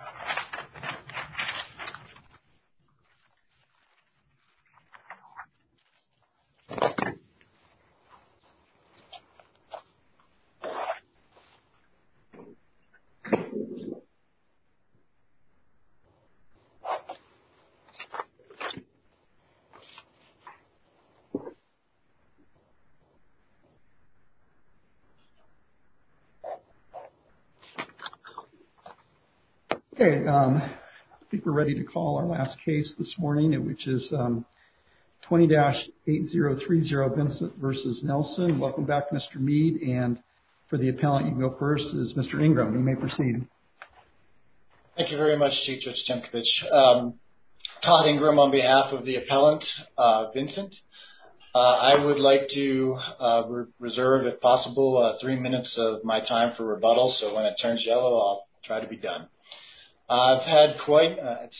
R old this morning which is 20-8030 Vincent vs. Nelson. Welcome back Mr. Mead and for the appellant you go first is Mr. Ingram. You may proceed. Thank you very much Chief Judge Tempkovic. Todd Ingram on behalf of the appellant Vincent. I would like to reserve if possible three minutes of my time for rebuttal so when it turns yellow I'll try to be done. I've had quite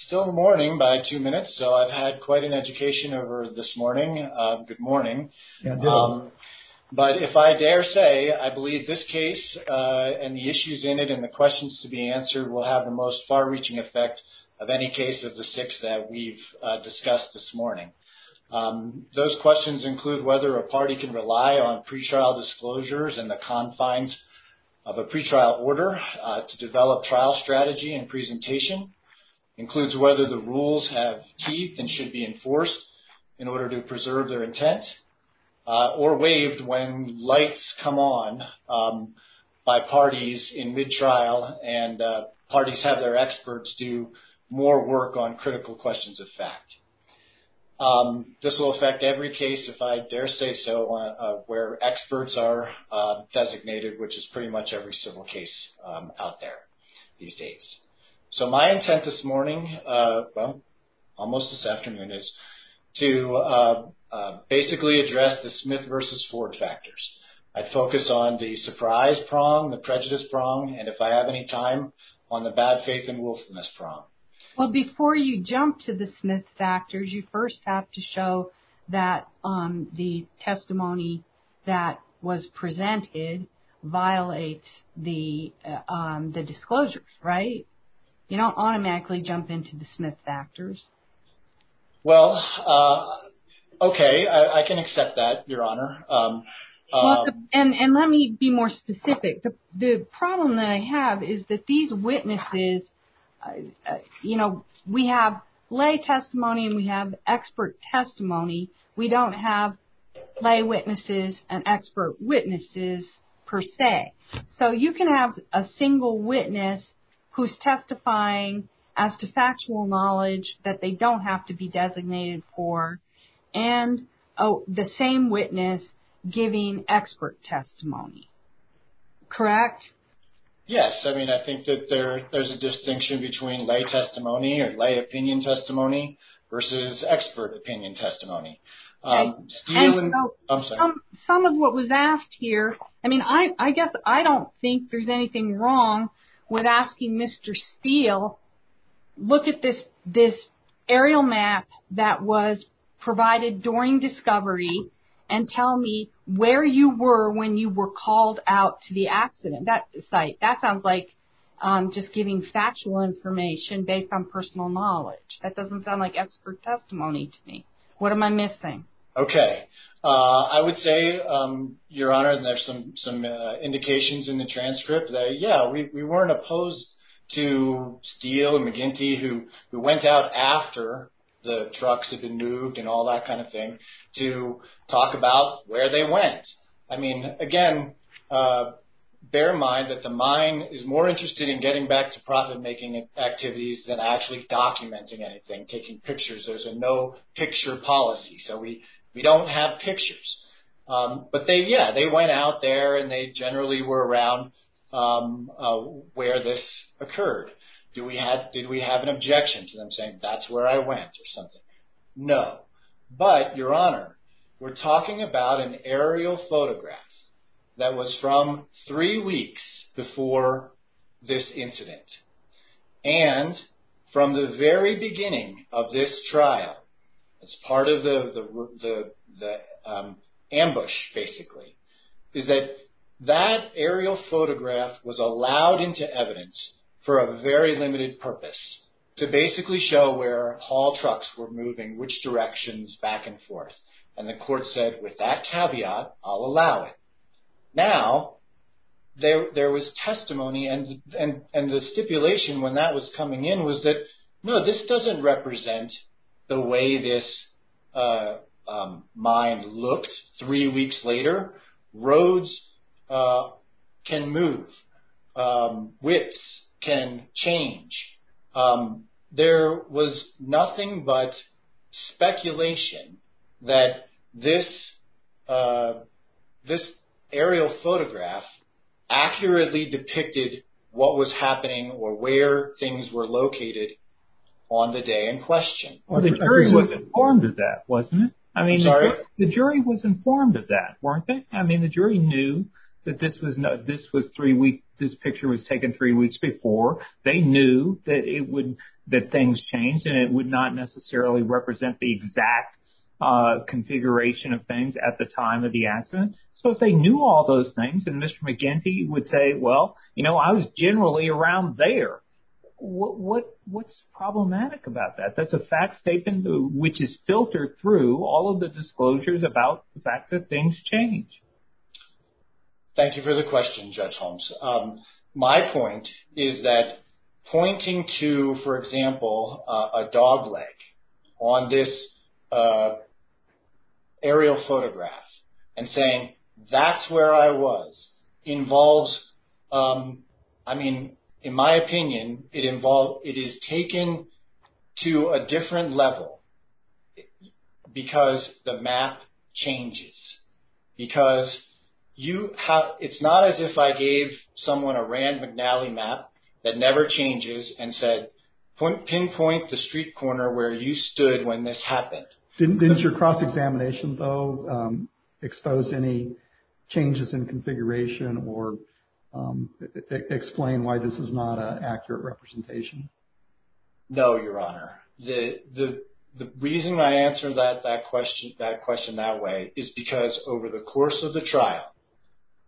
still morning by two minutes so I've had quite an education over this morning. Good morning but if I dare say I believe this case and the issues in it and the questions to be answered will have the most far-reaching effect of any case of the six that we've discussed this morning. Those questions include whether a party can rely on pretrial disclosures and the confines of a pretrial order to develop trial strategy and presentation, includes whether the rules have teeth and should be enforced in order to preserve their intent or waived when lights come on by parties in mid-trial and parties have their experts do more work on critical questions of fact. This will affect every case if I dare say so where experts are designated which is pretty much every civil case out there these days. So my intent this morning, almost this afternoon, is to basically address the Smith versus Ford factors. I'd focus on the surprise prong, the prejudice prong and if I have any time on the bad faith and willfulness prong. Well before you jump to the Smith factors you first have to show that the testimony that was presented violates the disclosures, right? You don't automatically jump into the Smith factors. Well okay, I can accept that, Your Honor. And let me be more specific. The problem that I have is that these witnesses, you know, we have lay testimony and we have expert testimony. We don't have lay witnesses and expert witnesses per se. So you can have a single witness who's testifying as to factual knowledge that they don't have to be designated for and the same witness giving expert testimony. Correct? Yes, I mean I think that there's a distinction between lay testimony or lay opinion testimony versus expert opinion testimony. Some of what was asked here, I mean I guess I don't think there's anything wrong with asking Mr. Steele, look at this aerial map that was provided during discovery and tell me where you were when you were called out to the accident site. That sounds like just giving factual information based on personal knowledge. That doesn't sound like expert testimony to me. What am I missing? Okay, I would say, Your Honor, and there's some indications in the transcript that yeah, we weren't opposed to Steele and McGinty who went out after the trucks had been nuked and all that kind of thing to talk about where they went. I mean, again, bear in mind that the mine is more interested in getting back to profit-making activities than actually documenting anything, taking pictures. There's a no-picture policy, so we don't have pictures. But yeah, they went out there and they generally were around where this occurred. Did we have an objection to them saying, that's where I went or something? No. But, Your Honor, we're talking about an aerial photograph that was from three weeks before this incident. And from the very beginning of this trial, as part of the ambush basically, is that that to basically show where haul trucks were moving, which directions, back and forth. And the court said, with that caveat, I'll allow it. Now, there was testimony and the stipulation when that was coming in was that, no, this doesn't represent the way this mine looked three weeks later. Roads can move. Widths can change. There was nothing but speculation that this aerial photograph accurately depicted what was happening or where things were located The jury was informed of that, wasn't it? I mean, the jury was informed of that, weren't they? I mean, the jury knew that this was three weeks, this picture was taken three weeks before. They knew that it would, that things changed and it would not necessarily represent the exact configuration of things at the time of the accident. So, if they knew all those things and Mr. McGinty would say, well, you know, I was generally around there. What's problematic about that? That's a fact statement which is filtered through all of the disclosures about the fact that things change. Thank you for the question, Judge Holmes. My point is that pointing to, for example, a dog leg on this aerial photograph and saying that's where I was involves, I mean, in my opinion, it involves, it is taken to a different level because the map changes. Because you have, it's not as if I gave someone a Rand McNally map that never changes and said pinpoint the street corner where you stood when this happened. Didn't your cross-examination, though, expose any changes in configuration or explain why this is not an accurate representation? No, Your Honor. The reason I answered that question that way is because over the course of the trial,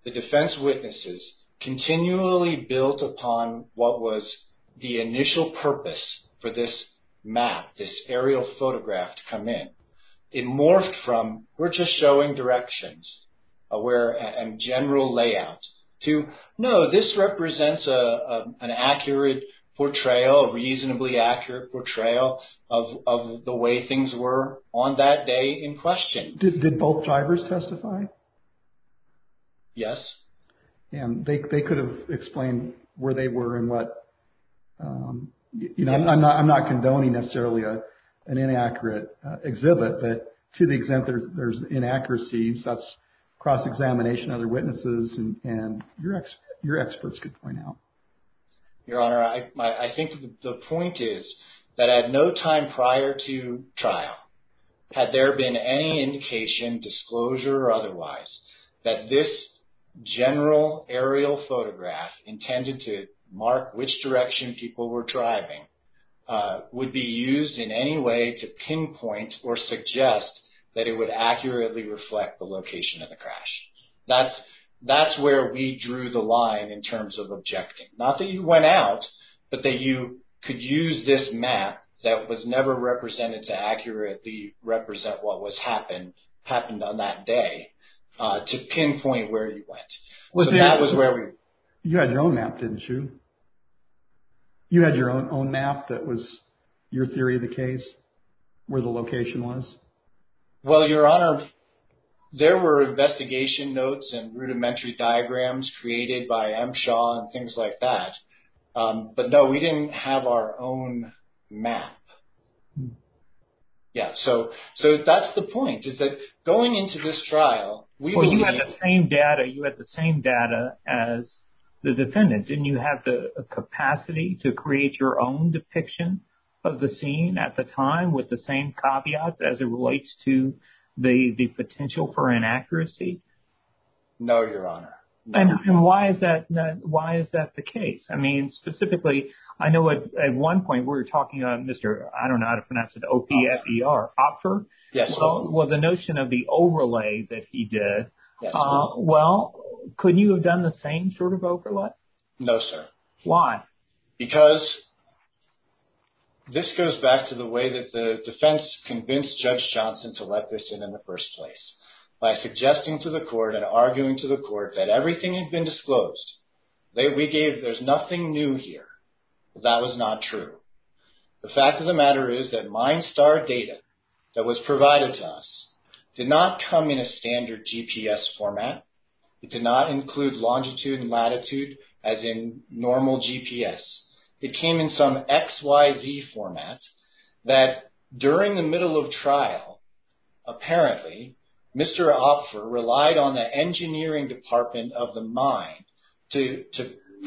the defense witnesses continually built upon what was the initial purpose for this aerial photograph to come in. It morphed from we're just showing directions and general layouts to no, this represents an accurate portrayal, a reasonably accurate portrayal of the way things were on that day in question. Did both drivers testify? Yes. And they could have explained where they were and what, you know, I'm not condoning necessarily an inaccurate exhibit, but to the extent there's inaccuracies, that's cross-examination, other witnesses, and your experts could point out. Your Honor, I think the point is that at no time prior to trial had there been any indication, disclosure or otherwise, that this general aerial photograph intended to mark which direction people were driving would be used in any way to pinpoint or suggest that it would accurately reflect the location of the crash. That's where we drew the line in terms of objecting. Not that you went out, but that you could use this map that was never represented to accurately represent what was happened on that day to pinpoint where you went. So that was where we... You had your own map, didn't you? You had your own map that was your theory of the case, where the location was? Well, Your Honor, there were investigation notes and rudimentary diagrams created by M. Shaw and things like that, but no, we didn't have our own map. Yeah, so that's the point is that going into this trial... Well, you had the same data, you had the same data as the defendant. Didn't you have the capacity to create your own depiction of the scene at the time with the same caveats as it relates to the potential for inaccuracy? No, Your Honor. And why is that the case? I mean, specifically, I know at one point we were talking on Mr. I don't know how the notion of the overlay that he did. Well, could you have done the same sort of overlay? No, sir. Why? Because this goes back to the way that the defense convinced Judge Johnson to let this in in the first place by suggesting to the court and arguing to the court that everything had been disclosed. We gave there's nothing new here. That was not true. The fact of the matter is that MindStar data that was provided to us did not come in a standard GPS format. It did not include longitude and latitude as in normal GPS. It came in some XYZ format that during the middle of trial, apparently, Mr. Opfer relied on the engineering department of the mine to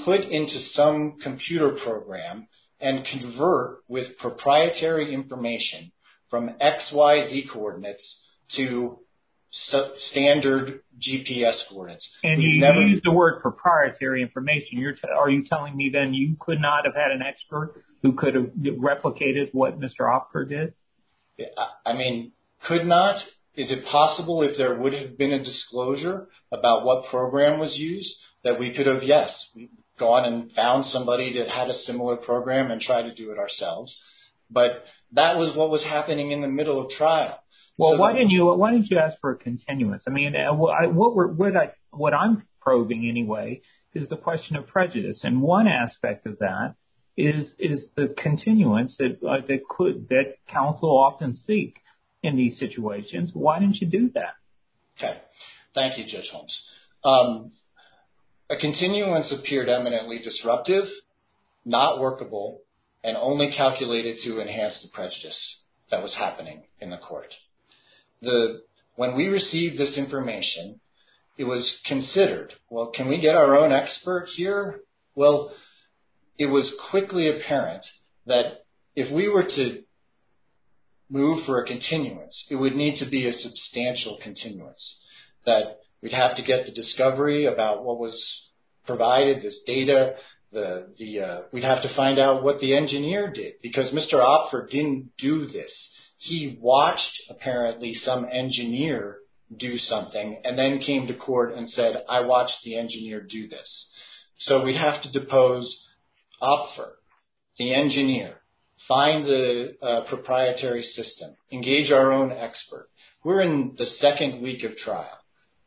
put into some computer program and convert with proprietary information from XYZ coordinates to standard GPS coordinates. And you used the word proprietary information. Are you telling me then you could not have had an expert who could have replicated what Mr. Opfer did? I mean, could not? Is it possible if there would have been a disclosure about what program was used that we go on and found somebody that had a similar program and try to do it ourselves? But that was what was happening in the middle of trial. Well, why didn't you ask for a continuance? I mean, what I'm probing anyway is the question of prejudice. And one aspect of that is the continuance that counsel often seek in these situations. Why didn't you do that? Okay. Thank you, Judge Holmes. A continuance appeared eminently disruptive, not workable, and only calculated to enhance the prejudice that was happening in the court. When we received this information, it was considered, well, can we get our own expert here? Well, it was quickly apparent that if we were to move for a continuance, it would need to be a substantial continuance. That we'd have to get the discovery about what was provided, this data. We'd have to find out what the engineer did because Mr. Opfer didn't do this. He watched apparently some engineer do something and then came to court and said, I watched the engineer do this. So we'd have to depose Opfer, the engineer, find the proprietary system, engage our own expert. We're in the second week of trial.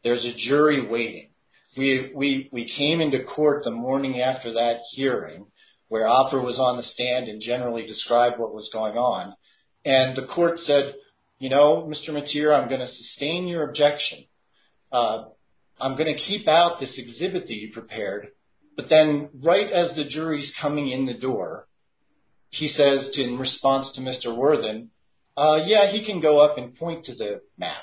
There's a jury waiting. We came into court the morning after that hearing where Opfer was on the stand and generally described what was going on. And the court said, you know, Mr. Mathieu, I'm going to sustain your objection. I'm going to keep out this exhibit that you prepared. But then right as the jury's coming in the door, he says in response to Mr. Worthen, yeah, he can go up and point to the map.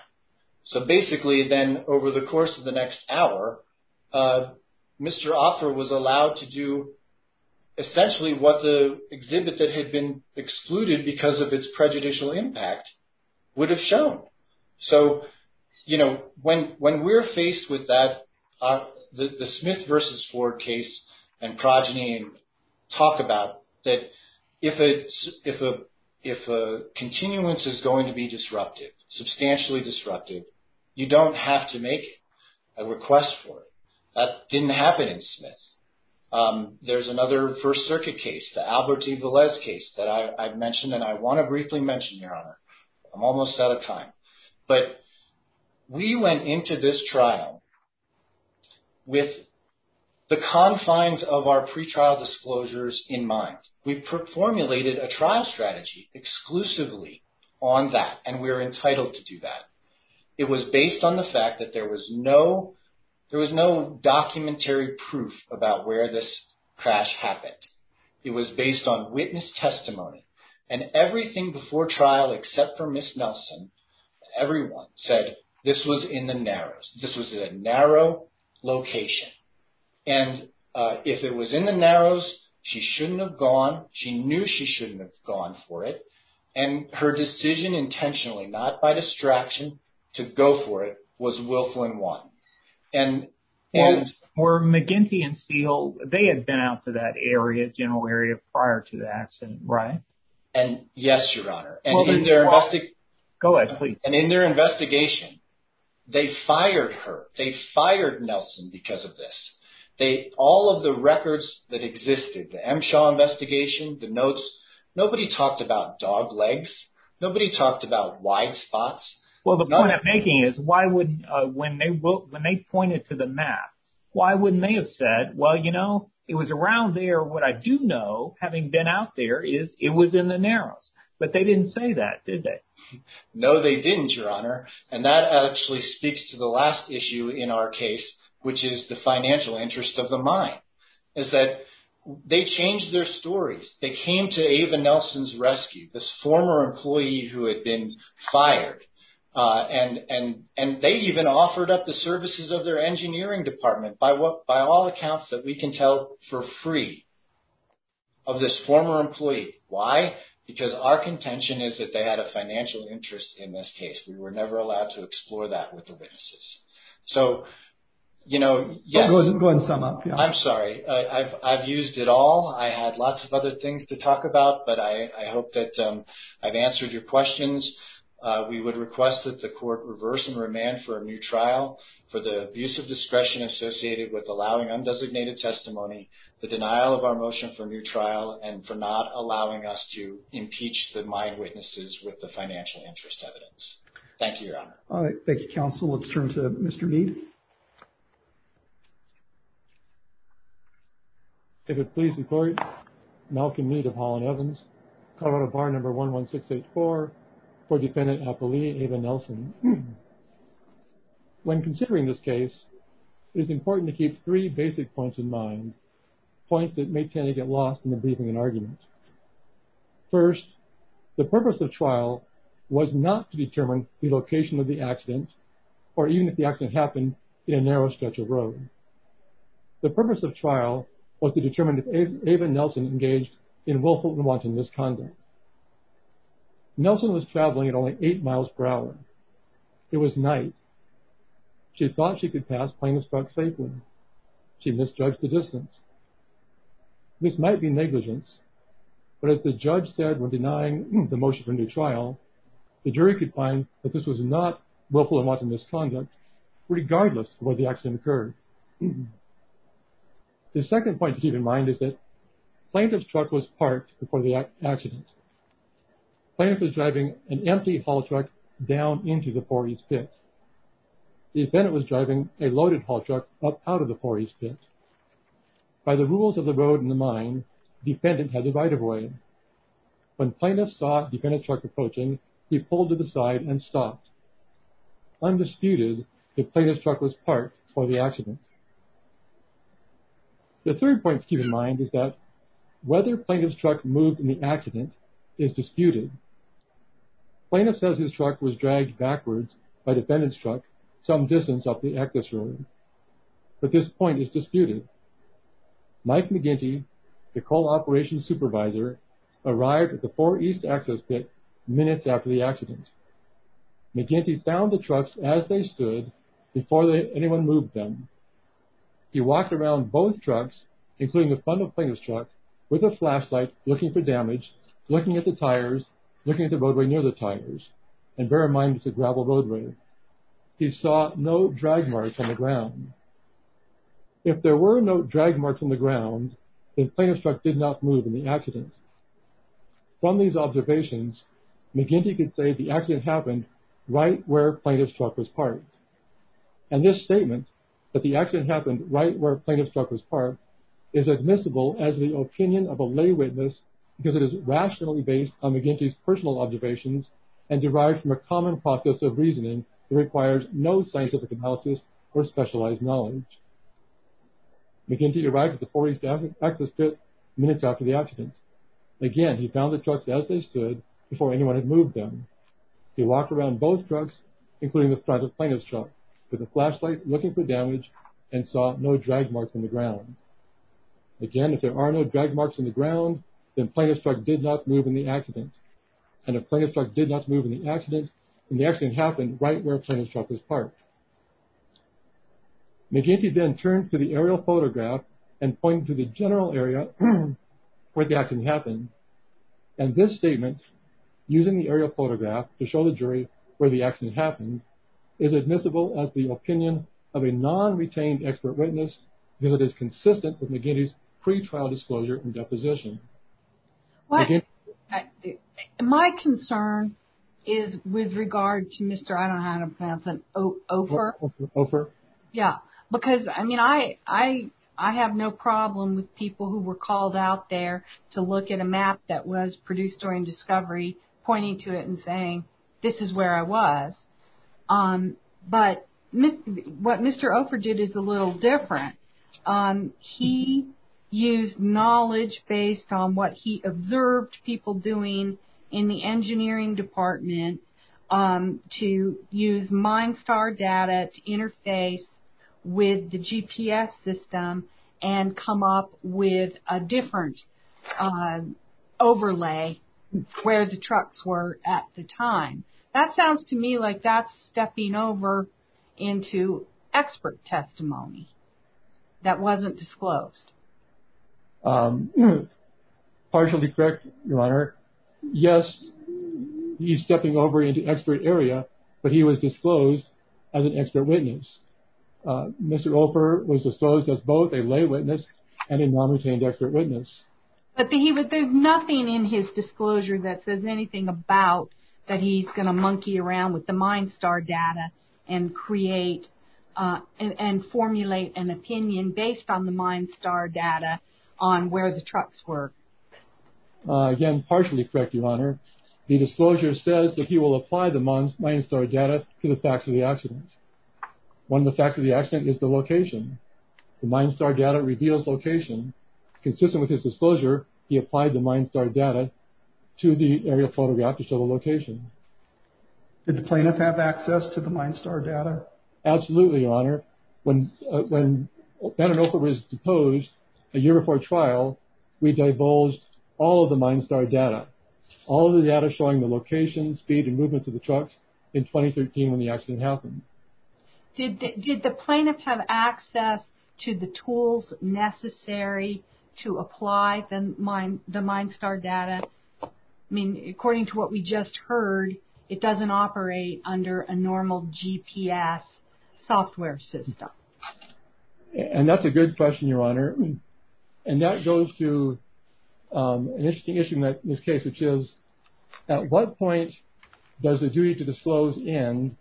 So basically then over the course of the next hour, Mr. Opfer was allowed to do essentially what the exhibit that had been excluded because of its prejudicial impact would have shown. So, you know, when we're faced with that, the Smith versus Ford case and Progeny talk about that if a continuance is going to be disrupted, substantially disrupted, you don't have to make a request for it. That didn't happen in Smith. There's another First Circuit case, the Alberti-Velez case that I've mentioned, and I want to briefly mention, Your Honor. I'm almost out of time. But we went into this trial with the confines of our pretrial disclosures in mind. We formulated a trial strategy exclusively on that, and we're entitled to do that. It was based on the fact that there was no documentary proof about where this crash happened. It was based on witness testimony. And everything before location. And if it was in the narrows, she shouldn't have gone. She knew she shouldn't have gone for it. And her decision intentionally, not by distraction, to go for it was willful and one. And were McGinty and Seahill, they had been out to that area, general area prior to the accident, right? And yes, Your Honor. Go ahead, please. And in their investigation, they fired her. They fired Nelson because of this. All of the records that existed, the MSHAW investigation, the notes, nobody talked about dog legs. Nobody talked about wide spots. Well, the point I'm making is when they pointed to the map, why wouldn't they have said, well, you know, it was around there. What I do know, having been out there, is it was in the narrows. But they didn't say that, did they? No, they didn't, Your Honor. And that actually speaks to the last issue in our case, which is the financial interest of the mine, is that they changed their stories. They came to Ava Nelson's rescue, this former employee who had been fired. And they even offered up the services of their engineering department by all accounts that we can tell for free of this former employee. Why? Because our contention is that they had a So, you know, yes. Go ahead and sum up. I'm sorry. I've used it all. I had lots of other things to talk about, but I hope that I've answered your questions. We would request that the court reverse and remand for a new trial for the abuse of discretion associated with allowing undesignated testimony, the denial of our motion for a new trial, and for not allowing us to impeach the mine witnesses with the financial interest evidence. Thank you, Your Honor. All right. Thank you, counsel. Let's turn to Mr. Mead. If it please the court, Malcolm Mead of Holland Evans, Colorado Bar Number 11684, for Defendant Apolli Ava Nelson. When considering this case, it is important to keep three basic points in mind, points that may tend to get lost in the briefing and argument. First, the purpose of trial was not to determine the location of the accident or even if the accident happened in a narrow stretch of road. The purpose of trial was to determine if Ava Nelson engaged in willful and wanton misconduct. Nelson was traveling at only eight miles per hour. It was night. She thought she could pass plain as truck safely. She misjudged the distance. This might be negligence, but if the judge said we're denying the motion for a new trial, the jury could find that this was not willful and wanton misconduct, regardless of where the accident occurred. The second point to keep in mind is that plaintiff's truck was parked before the accident. Plaintiff was driving an empty haul truck down into the Four East Pit. The defendant was driving a loaded haul truck up out of the Four East Pit. By the rules of the road in the mine, defendant had the right of way. When plaintiff saw defendant's truck approaching, he pulled to the side and stopped. Undisputed, the plaintiff's truck was parked before the accident. The third point to keep in mind is that whether plaintiff's truck moved in the accident is disputed. Plaintiff says his truck was dragged backwards by defendant's truck some distance up the access road, but this point is disputed. Mike McGinty, the coal operations supervisor, arrived at the Four East Access Pit minutes after the accident. McGinty found the trucks as they stood before anyone moved them. He walked around both trucks, including the front of plaintiff's truck, with a flashlight looking for damage, looking at the tires, looking at the roadway near the tires, and bear in mind it's a gravel roadway. He saw no drag marks on the ground. If there were no drag marks on the ground, then plaintiff's truck did not move in the accident. From these observations, McGinty could say the accident happened right where plaintiff's truck was parked. And this statement, that the accident happened right where plaintiff's truck was parked, is admissible as the opinion of a lay witness because it is rationally based on McGinty's personal observations and derived from a common process of reasoning that requires no scientific analysis or specialized knowledge. McGinty arrived at the Four East Access Pit minutes after the accident. Again, he found the trucks as they stood before anyone had moved them. He walked around both trucks, including the front of plaintiff's truck, with a flashlight looking for damage, and saw no drag marks on the ground. Again, if there are no drag marks on the ground, then plaintiff's truck did not move in the accident. And if plaintiff's truck did not move in the accident, then the accident happened right where plaintiff's truck was parked. McGinty then turned to the aerial photograph and pointed to the general area where the accident happened. And this statement, using the aerial photograph to show the jury where the accident happened, is admissible as the opinion of a non-retained expert witness because it is consistent with McGinty's pre-trial disclosure and deposition. My concern is with regard to Mr. I don't know how to pronounce it, Ofer. Yeah, because, I mean, I have no problem with people who were called out there to look at a map that was produced during discovery pointing to it and saying this is where I was. But what Mr. Ofer did is a little different. He used knowledge based on what he observed people doing in the engineering department to use MindStar data to interface with the GPS system and come up with a different overlay where the trucks were at the time. That sounds to me like that's stepping over into expert testimony that wasn't disclosed. Partially correct, Your Honor. Yes, he's stepping over into expert area, but he was disclosed as an expert witness. Mr. Ofer was disclosed as both a lay witness and a non-retained expert witness. But there's nothing in his disclosure that says anything about that he's going to monkey around with the MindStar data and formulate an opinion based on the MindStar data on where the trucks were. Again, partially correct, Your Honor. The disclosure says that he will apply the MindStar data to the facts of the accident. One of the facts of the accident is the location. The MindStar data reveals location. Consistent with his photograph to show the location. Did the plaintiff have access to the MindStar data? Absolutely, Your Honor. When Ben and Ofer was deposed a year before trial, we divulged all of the MindStar data. All the data showing the location, speed, and movements of the trucks in 2013 when the accident happened. Did the plaintiffs have access to the tools necessary to apply the MindStar data? I mean, according to what we just heard, it doesn't operate under a normal GPS software system. And that's a good question, Your Honor. And that goes to an interesting issue in this case, which is, at what point does the duty to disclose end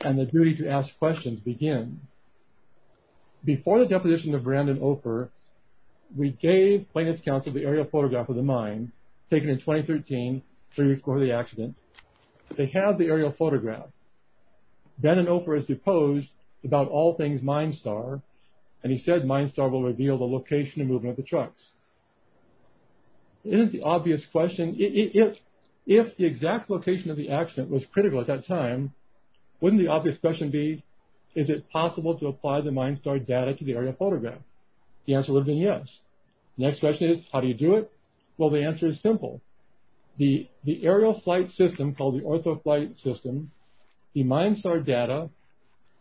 and the duty to ask questions begin? Before the deposition of Brandon Ofer, we gave Plaintiff's Counsel the aerial photograph of the accident in 2013, three weeks before the accident. They have the aerial photograph. Ben and Ofer is deposed about all things MindStar, and he said MindStar will reveal the location and movement of the trucks. Isn't the obvious question, if the exact location of the accident was critical at that time, wouldn't the obvious question be, is it possible to apply the MindStar data to the aerial photograph? The answer would have been yes. Next question is, how do you do it? Well, the answer is simple. The aerial flight system, called the OrthoFlight system, the MindStar data,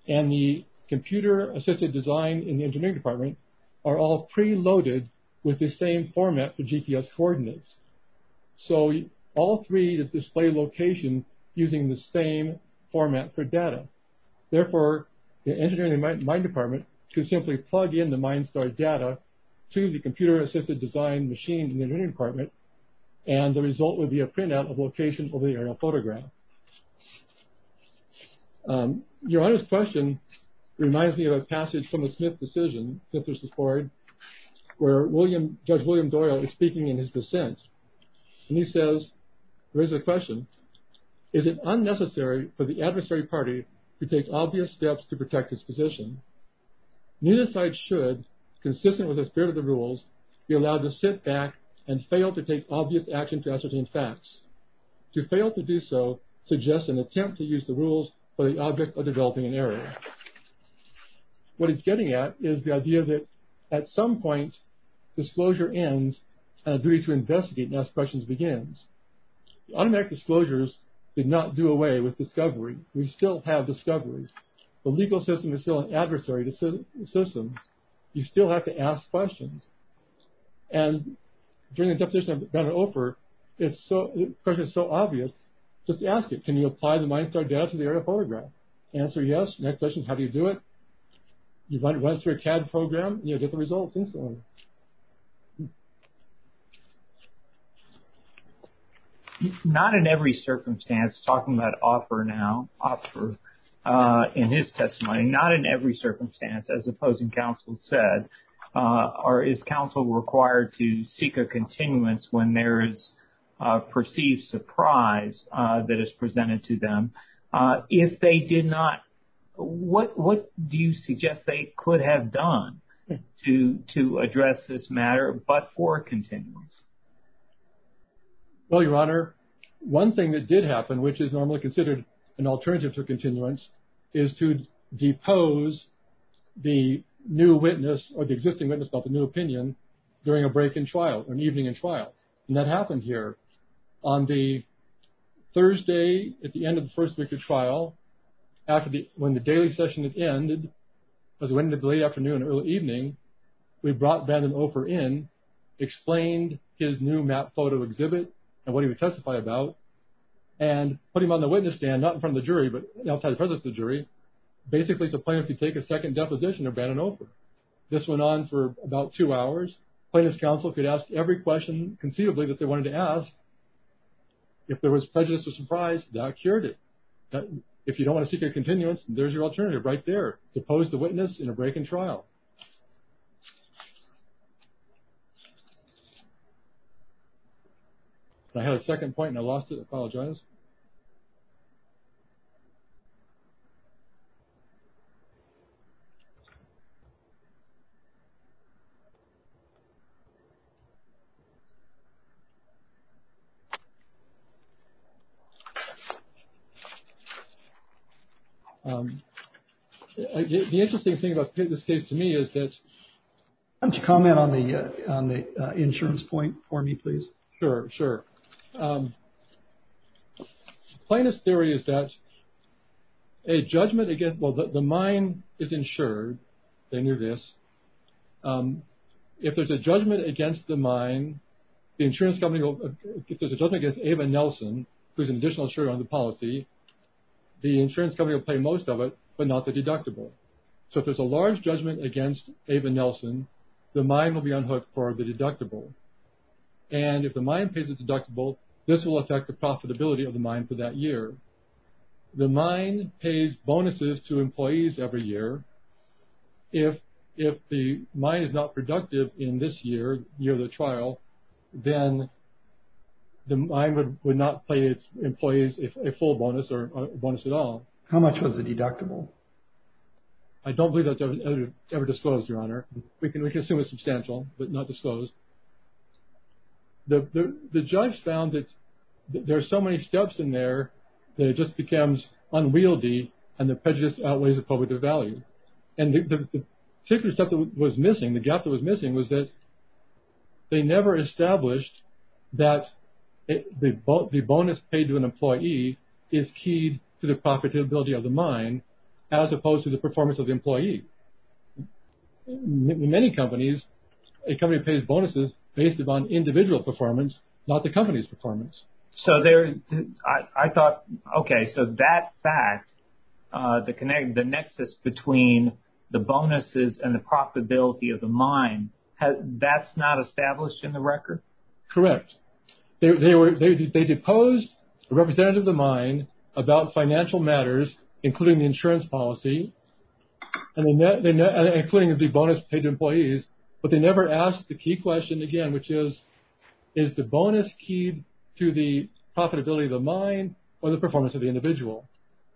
and the computer-assisted design in the engineering department are all pre-loaded with the same format for GPS coordinates. So, all three display location using the same format for data. Therefore, the engineering department could simply plug in the MindStar data to the computer-assisted design machined in the engineering department, and the result would be a printout of location of the aerial photograph. Your Honor's question reminds me of a passage from the Smith decision, Smith v. Ford, where Judge William Doyle is speaking in his dissent, and he says, raises a question, is it unnecessary for the adversary party to take obvious steps to protect his position? Neither side should, consistent with the spirit of the rules, be allowed to sit back and fail to take obvious action to ascertain facts. To fail to do so suggests an attempt to use the rules for the object of developing an error. What he's getting at is the idea that at some point, disclosure ends and a duty to investigate next questions begins. Automatic disclosures did not do away with discovery. We still have discoveries. The legal system is still an adversary to systems. You still have to ask questions, and during the deposition of Bennett Ofer, the question is so obvious, just ask it. Can you apply the MindStar data to the aerial photograph? Answer yes. Next question, how do you do it? You run it through a CAD program, and you get the results. Not in every circumstance, talking about Ofer now, Ofer, in his testimony, not in every circumstance, as opposing counsel said, or is counsel required to seek a continuance when there is a perceived surprise that is presented to them? If they did not, what do you suggest they could have done to address this matter, but for continuance? Well, Your Honor, one thing that did happen, which is normally considered an alternative to continuance, is to depose the new witness or the existing witness about the new opinion during a break in trial, an evening in trial, and that happened here. On the Thursday at the end of the first week of trial, after the, when the daily session had ended, because it went into the late afternoon, early evening, we brought Bannon Ofer in, explained his new map photo exhibit and what he would testify about, and put him on the witness stand, not in front of the jury, but outside the presence of the jury, basically to plan if you take a second deposition of Bannon Ofer. This went on for about two hours. Plaintiff's counsel could ask every question conceivably that they wanted to ask. If there was prejudice or surprise, that cured it. If you don't want to seek a continuance, there's your alternative right there. Depose the witness in a break-in trial. I had a second point and I lost it. I apologize. The interesting thing about this case to me is that... Why don't you comment on the insurance point for me, please? Sure, sure. Plaintiff's theory is that a judgment against, well, the mine is insured, they knew this. If there's a judgment against the mine, the insurance company will, if there's a judgment against Ava Nelson, who's an additional insurer on the policy, the insurance company will pay most of it, but not the deductible. So if there's a large judgment against Ava Nelson, the mine will be unhooked for the deductible. And if the mine pays the deductible, this will affect the profitability of the mine for that year. The mine pays bonuses to employees every year. If the mine is not productive in this year, the year of the trial, then the mine would not pay its employees a full bonus or bonus at all. How much was the deductible? I don't believe that's ever disclosed, Your Honor. We can assume it's substantial, but not disclosed. The judge found that there are so many steps in there that it just becomes unwieldy and the prejudice outweighs the public value. And the particular step that was missing, the gap that was missing was that they never established that the bonus paid to an employee is key to the profitability of the mine as opposed to the performance of the employee. In many companies, a company pays bonuses based upon individual performance, not the company's performance. So there, I thought, okay, so that fact, the connection, the nexus between the bonuses and profitability of the mine, that's not established in the record? Correct. They deposed a representative of the mine about financial matters, including the insurance policy, including the bonus paid to employees, but they never asked the key question again, which is, is the bonus key to the profitability of the mine or the performance of the individual?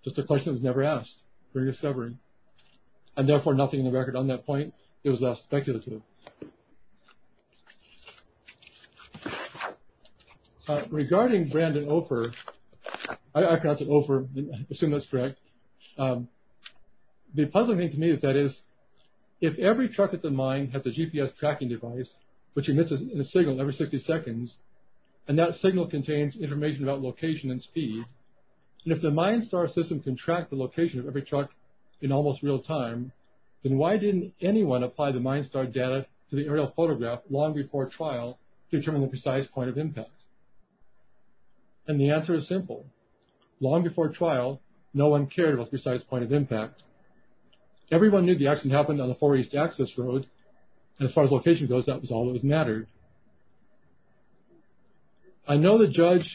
Just a question that was never asked during discovery, and therefore nothing in the record on that point. It was less speculative. Regarding Brandon Ofer, I pronounce it Ofer, I assume that's correct, the puzzling thing to me with that is, if every truck at the mine has a GPS tracking device, which emits a signal every 60 seconds, and that signal contains information about location and And if the mine star system can track the location of every truck in almost real time, then why didn't anyone apply the mine star data to the aerial photograph long before trial to determine the precise point of impact? And the answer is simple. Long before trial, no one cared about the precise point of impact. Everyone knew the accident happened on the four east access road, and as far as location goes, that was all that mattered. I know the judge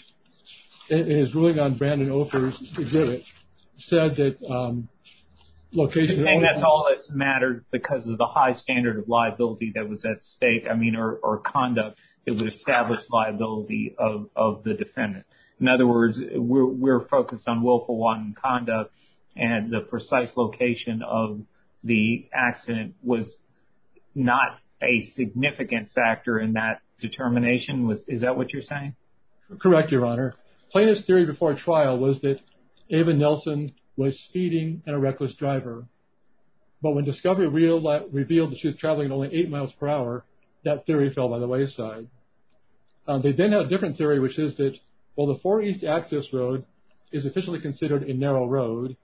in his ruling on Brandon Ofer's exhibit said that location... And that's all that's mattered because of the high standard of liability that was at stake, I mean, or conduct that would establish liability of the defendant. In other words, we're focused on willful wanton conduct, and the precise location of the accident was not a significant factor in that determination. Is that what you're saying? Correct, your honor. Plaintiff's theory before trial was that Ava Nelson was speeding and a reckless driver. But when Discovery revealed that she was traveling at only eight miles per hour, that theory fell by the wayside. They then had a different theory, which is that, well, the four east access road is officially considered a narrow road,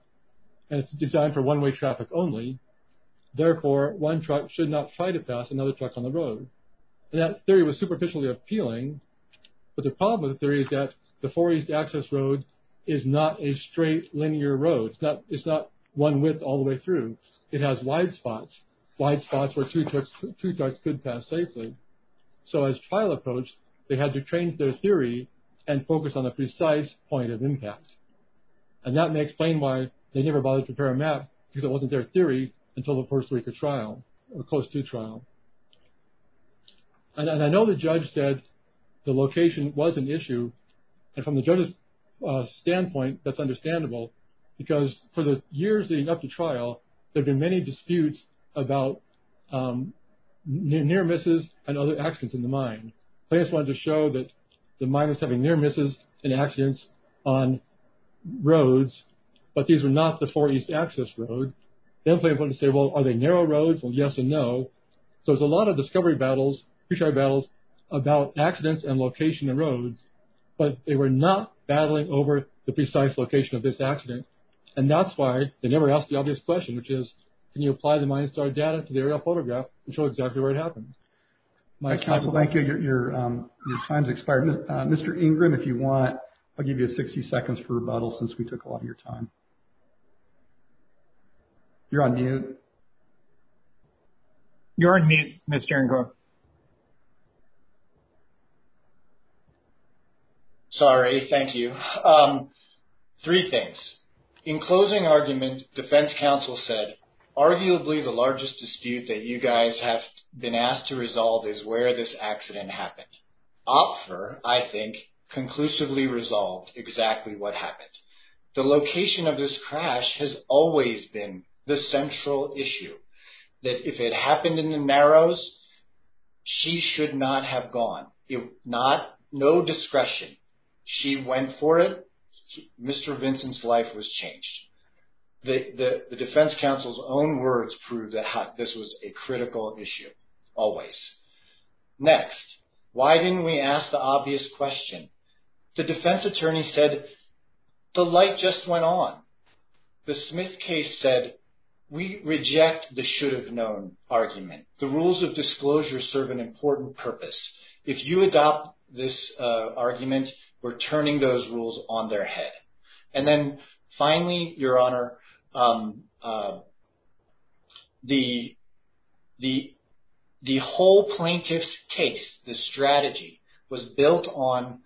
and it's designed for one-way traffic only. Therefore, one truck should not try to pass another truck on the road. And that theory was superficially appealing, but the problem with the theory is that the four east access road is not a straight, linear road. It's not one width all the way through. It has wide spots, wide spots where two trucks could pass safely. So as trial approached, they had to change their theory and focus on a precise point of impact. And that explained why they never bothered to prepare a map, because it wasn't their theory until the first week of trial, or close to trial. And I know the judge said the location was an issue. And from the judge's standpoint, that's understandable, because for the years leading up to trial, there have been many disputes about near misses and other accidents in the mine. They just wanted to show that the mine was having near misses and accidents on roads, but these were not the four east access road. Then they went and said, well, are they narrow roads? Well, yes and no. So there's a lot of discovery battles, pre-trial battles, about accidents and location and roads, but they were not battling over the precise location of this accident. And that's why they never asked the obvious question, which is, can you apply the mine star data to the aerial data? Your time's expired. Mr. Ingram, if you want, I'll give you 60 seconds for rebuttal, since we took a lot of your time. You're on mute. You're on mute, Mr. Ingram. Sorry, thank you. Three things. In closing argument, defense counsel said, arguably, the largest dispute that you guys have been asked to resolve is where this accident happened. Opfer, I think, conclusively resolved exactly what happened. The location of this crash has always been the central issue, that if it happened in the narrows, she should not have gone. No discretion. She went for it. Mr. Vincent's life was changed. The defense counsel's own words proved that this was a critical issue, always. Next, why didn't we ask the obvious question? The defense attorney said, the light just went on. The Smith case said, we reject the should have known argument. The rules of disclosure serve an important purpose. If you adopt this argument, we're turning those rules on their head. Then finally, your honor, the whole plaintiff's case, the strategy, was built on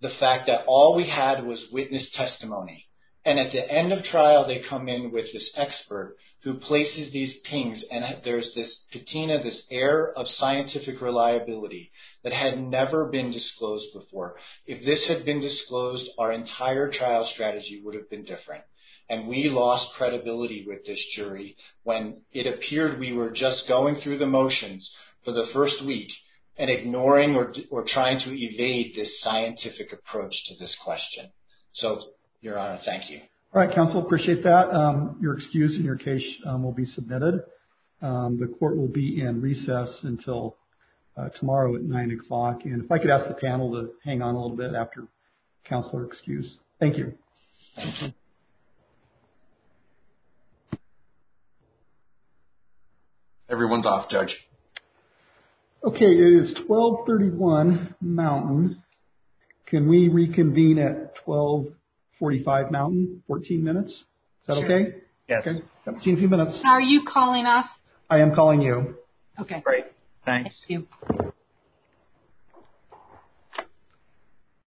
the fact that all we had was witness testimony. At the end of trial, they come in with this expert who places these pings. There's this air of scientific reliability that had never been disclosed before. If this had been disclosed, our entire trial strategy would have been different. We lost credibility with this jury when it appeared we were just going through the motions for the first week and ignoring or trying to evade this scientific approach to this question. Your honor, thank you. All right, counsel, appreciate that. Your excuse and your case will be submitted. The court will be in recess until tomorrow at nine o'clock. If I could ask the panel to hang on a little bit after counselor excuse. Thank you. Everyone's off, judge. Okay, it is 1231 Mountain. Can we reconvene at 1245 Mountain, 14 minutes? Is that okay? Yes. See you in a few minutes. Are you calling us? I am calling you. Okay, great. Thanks.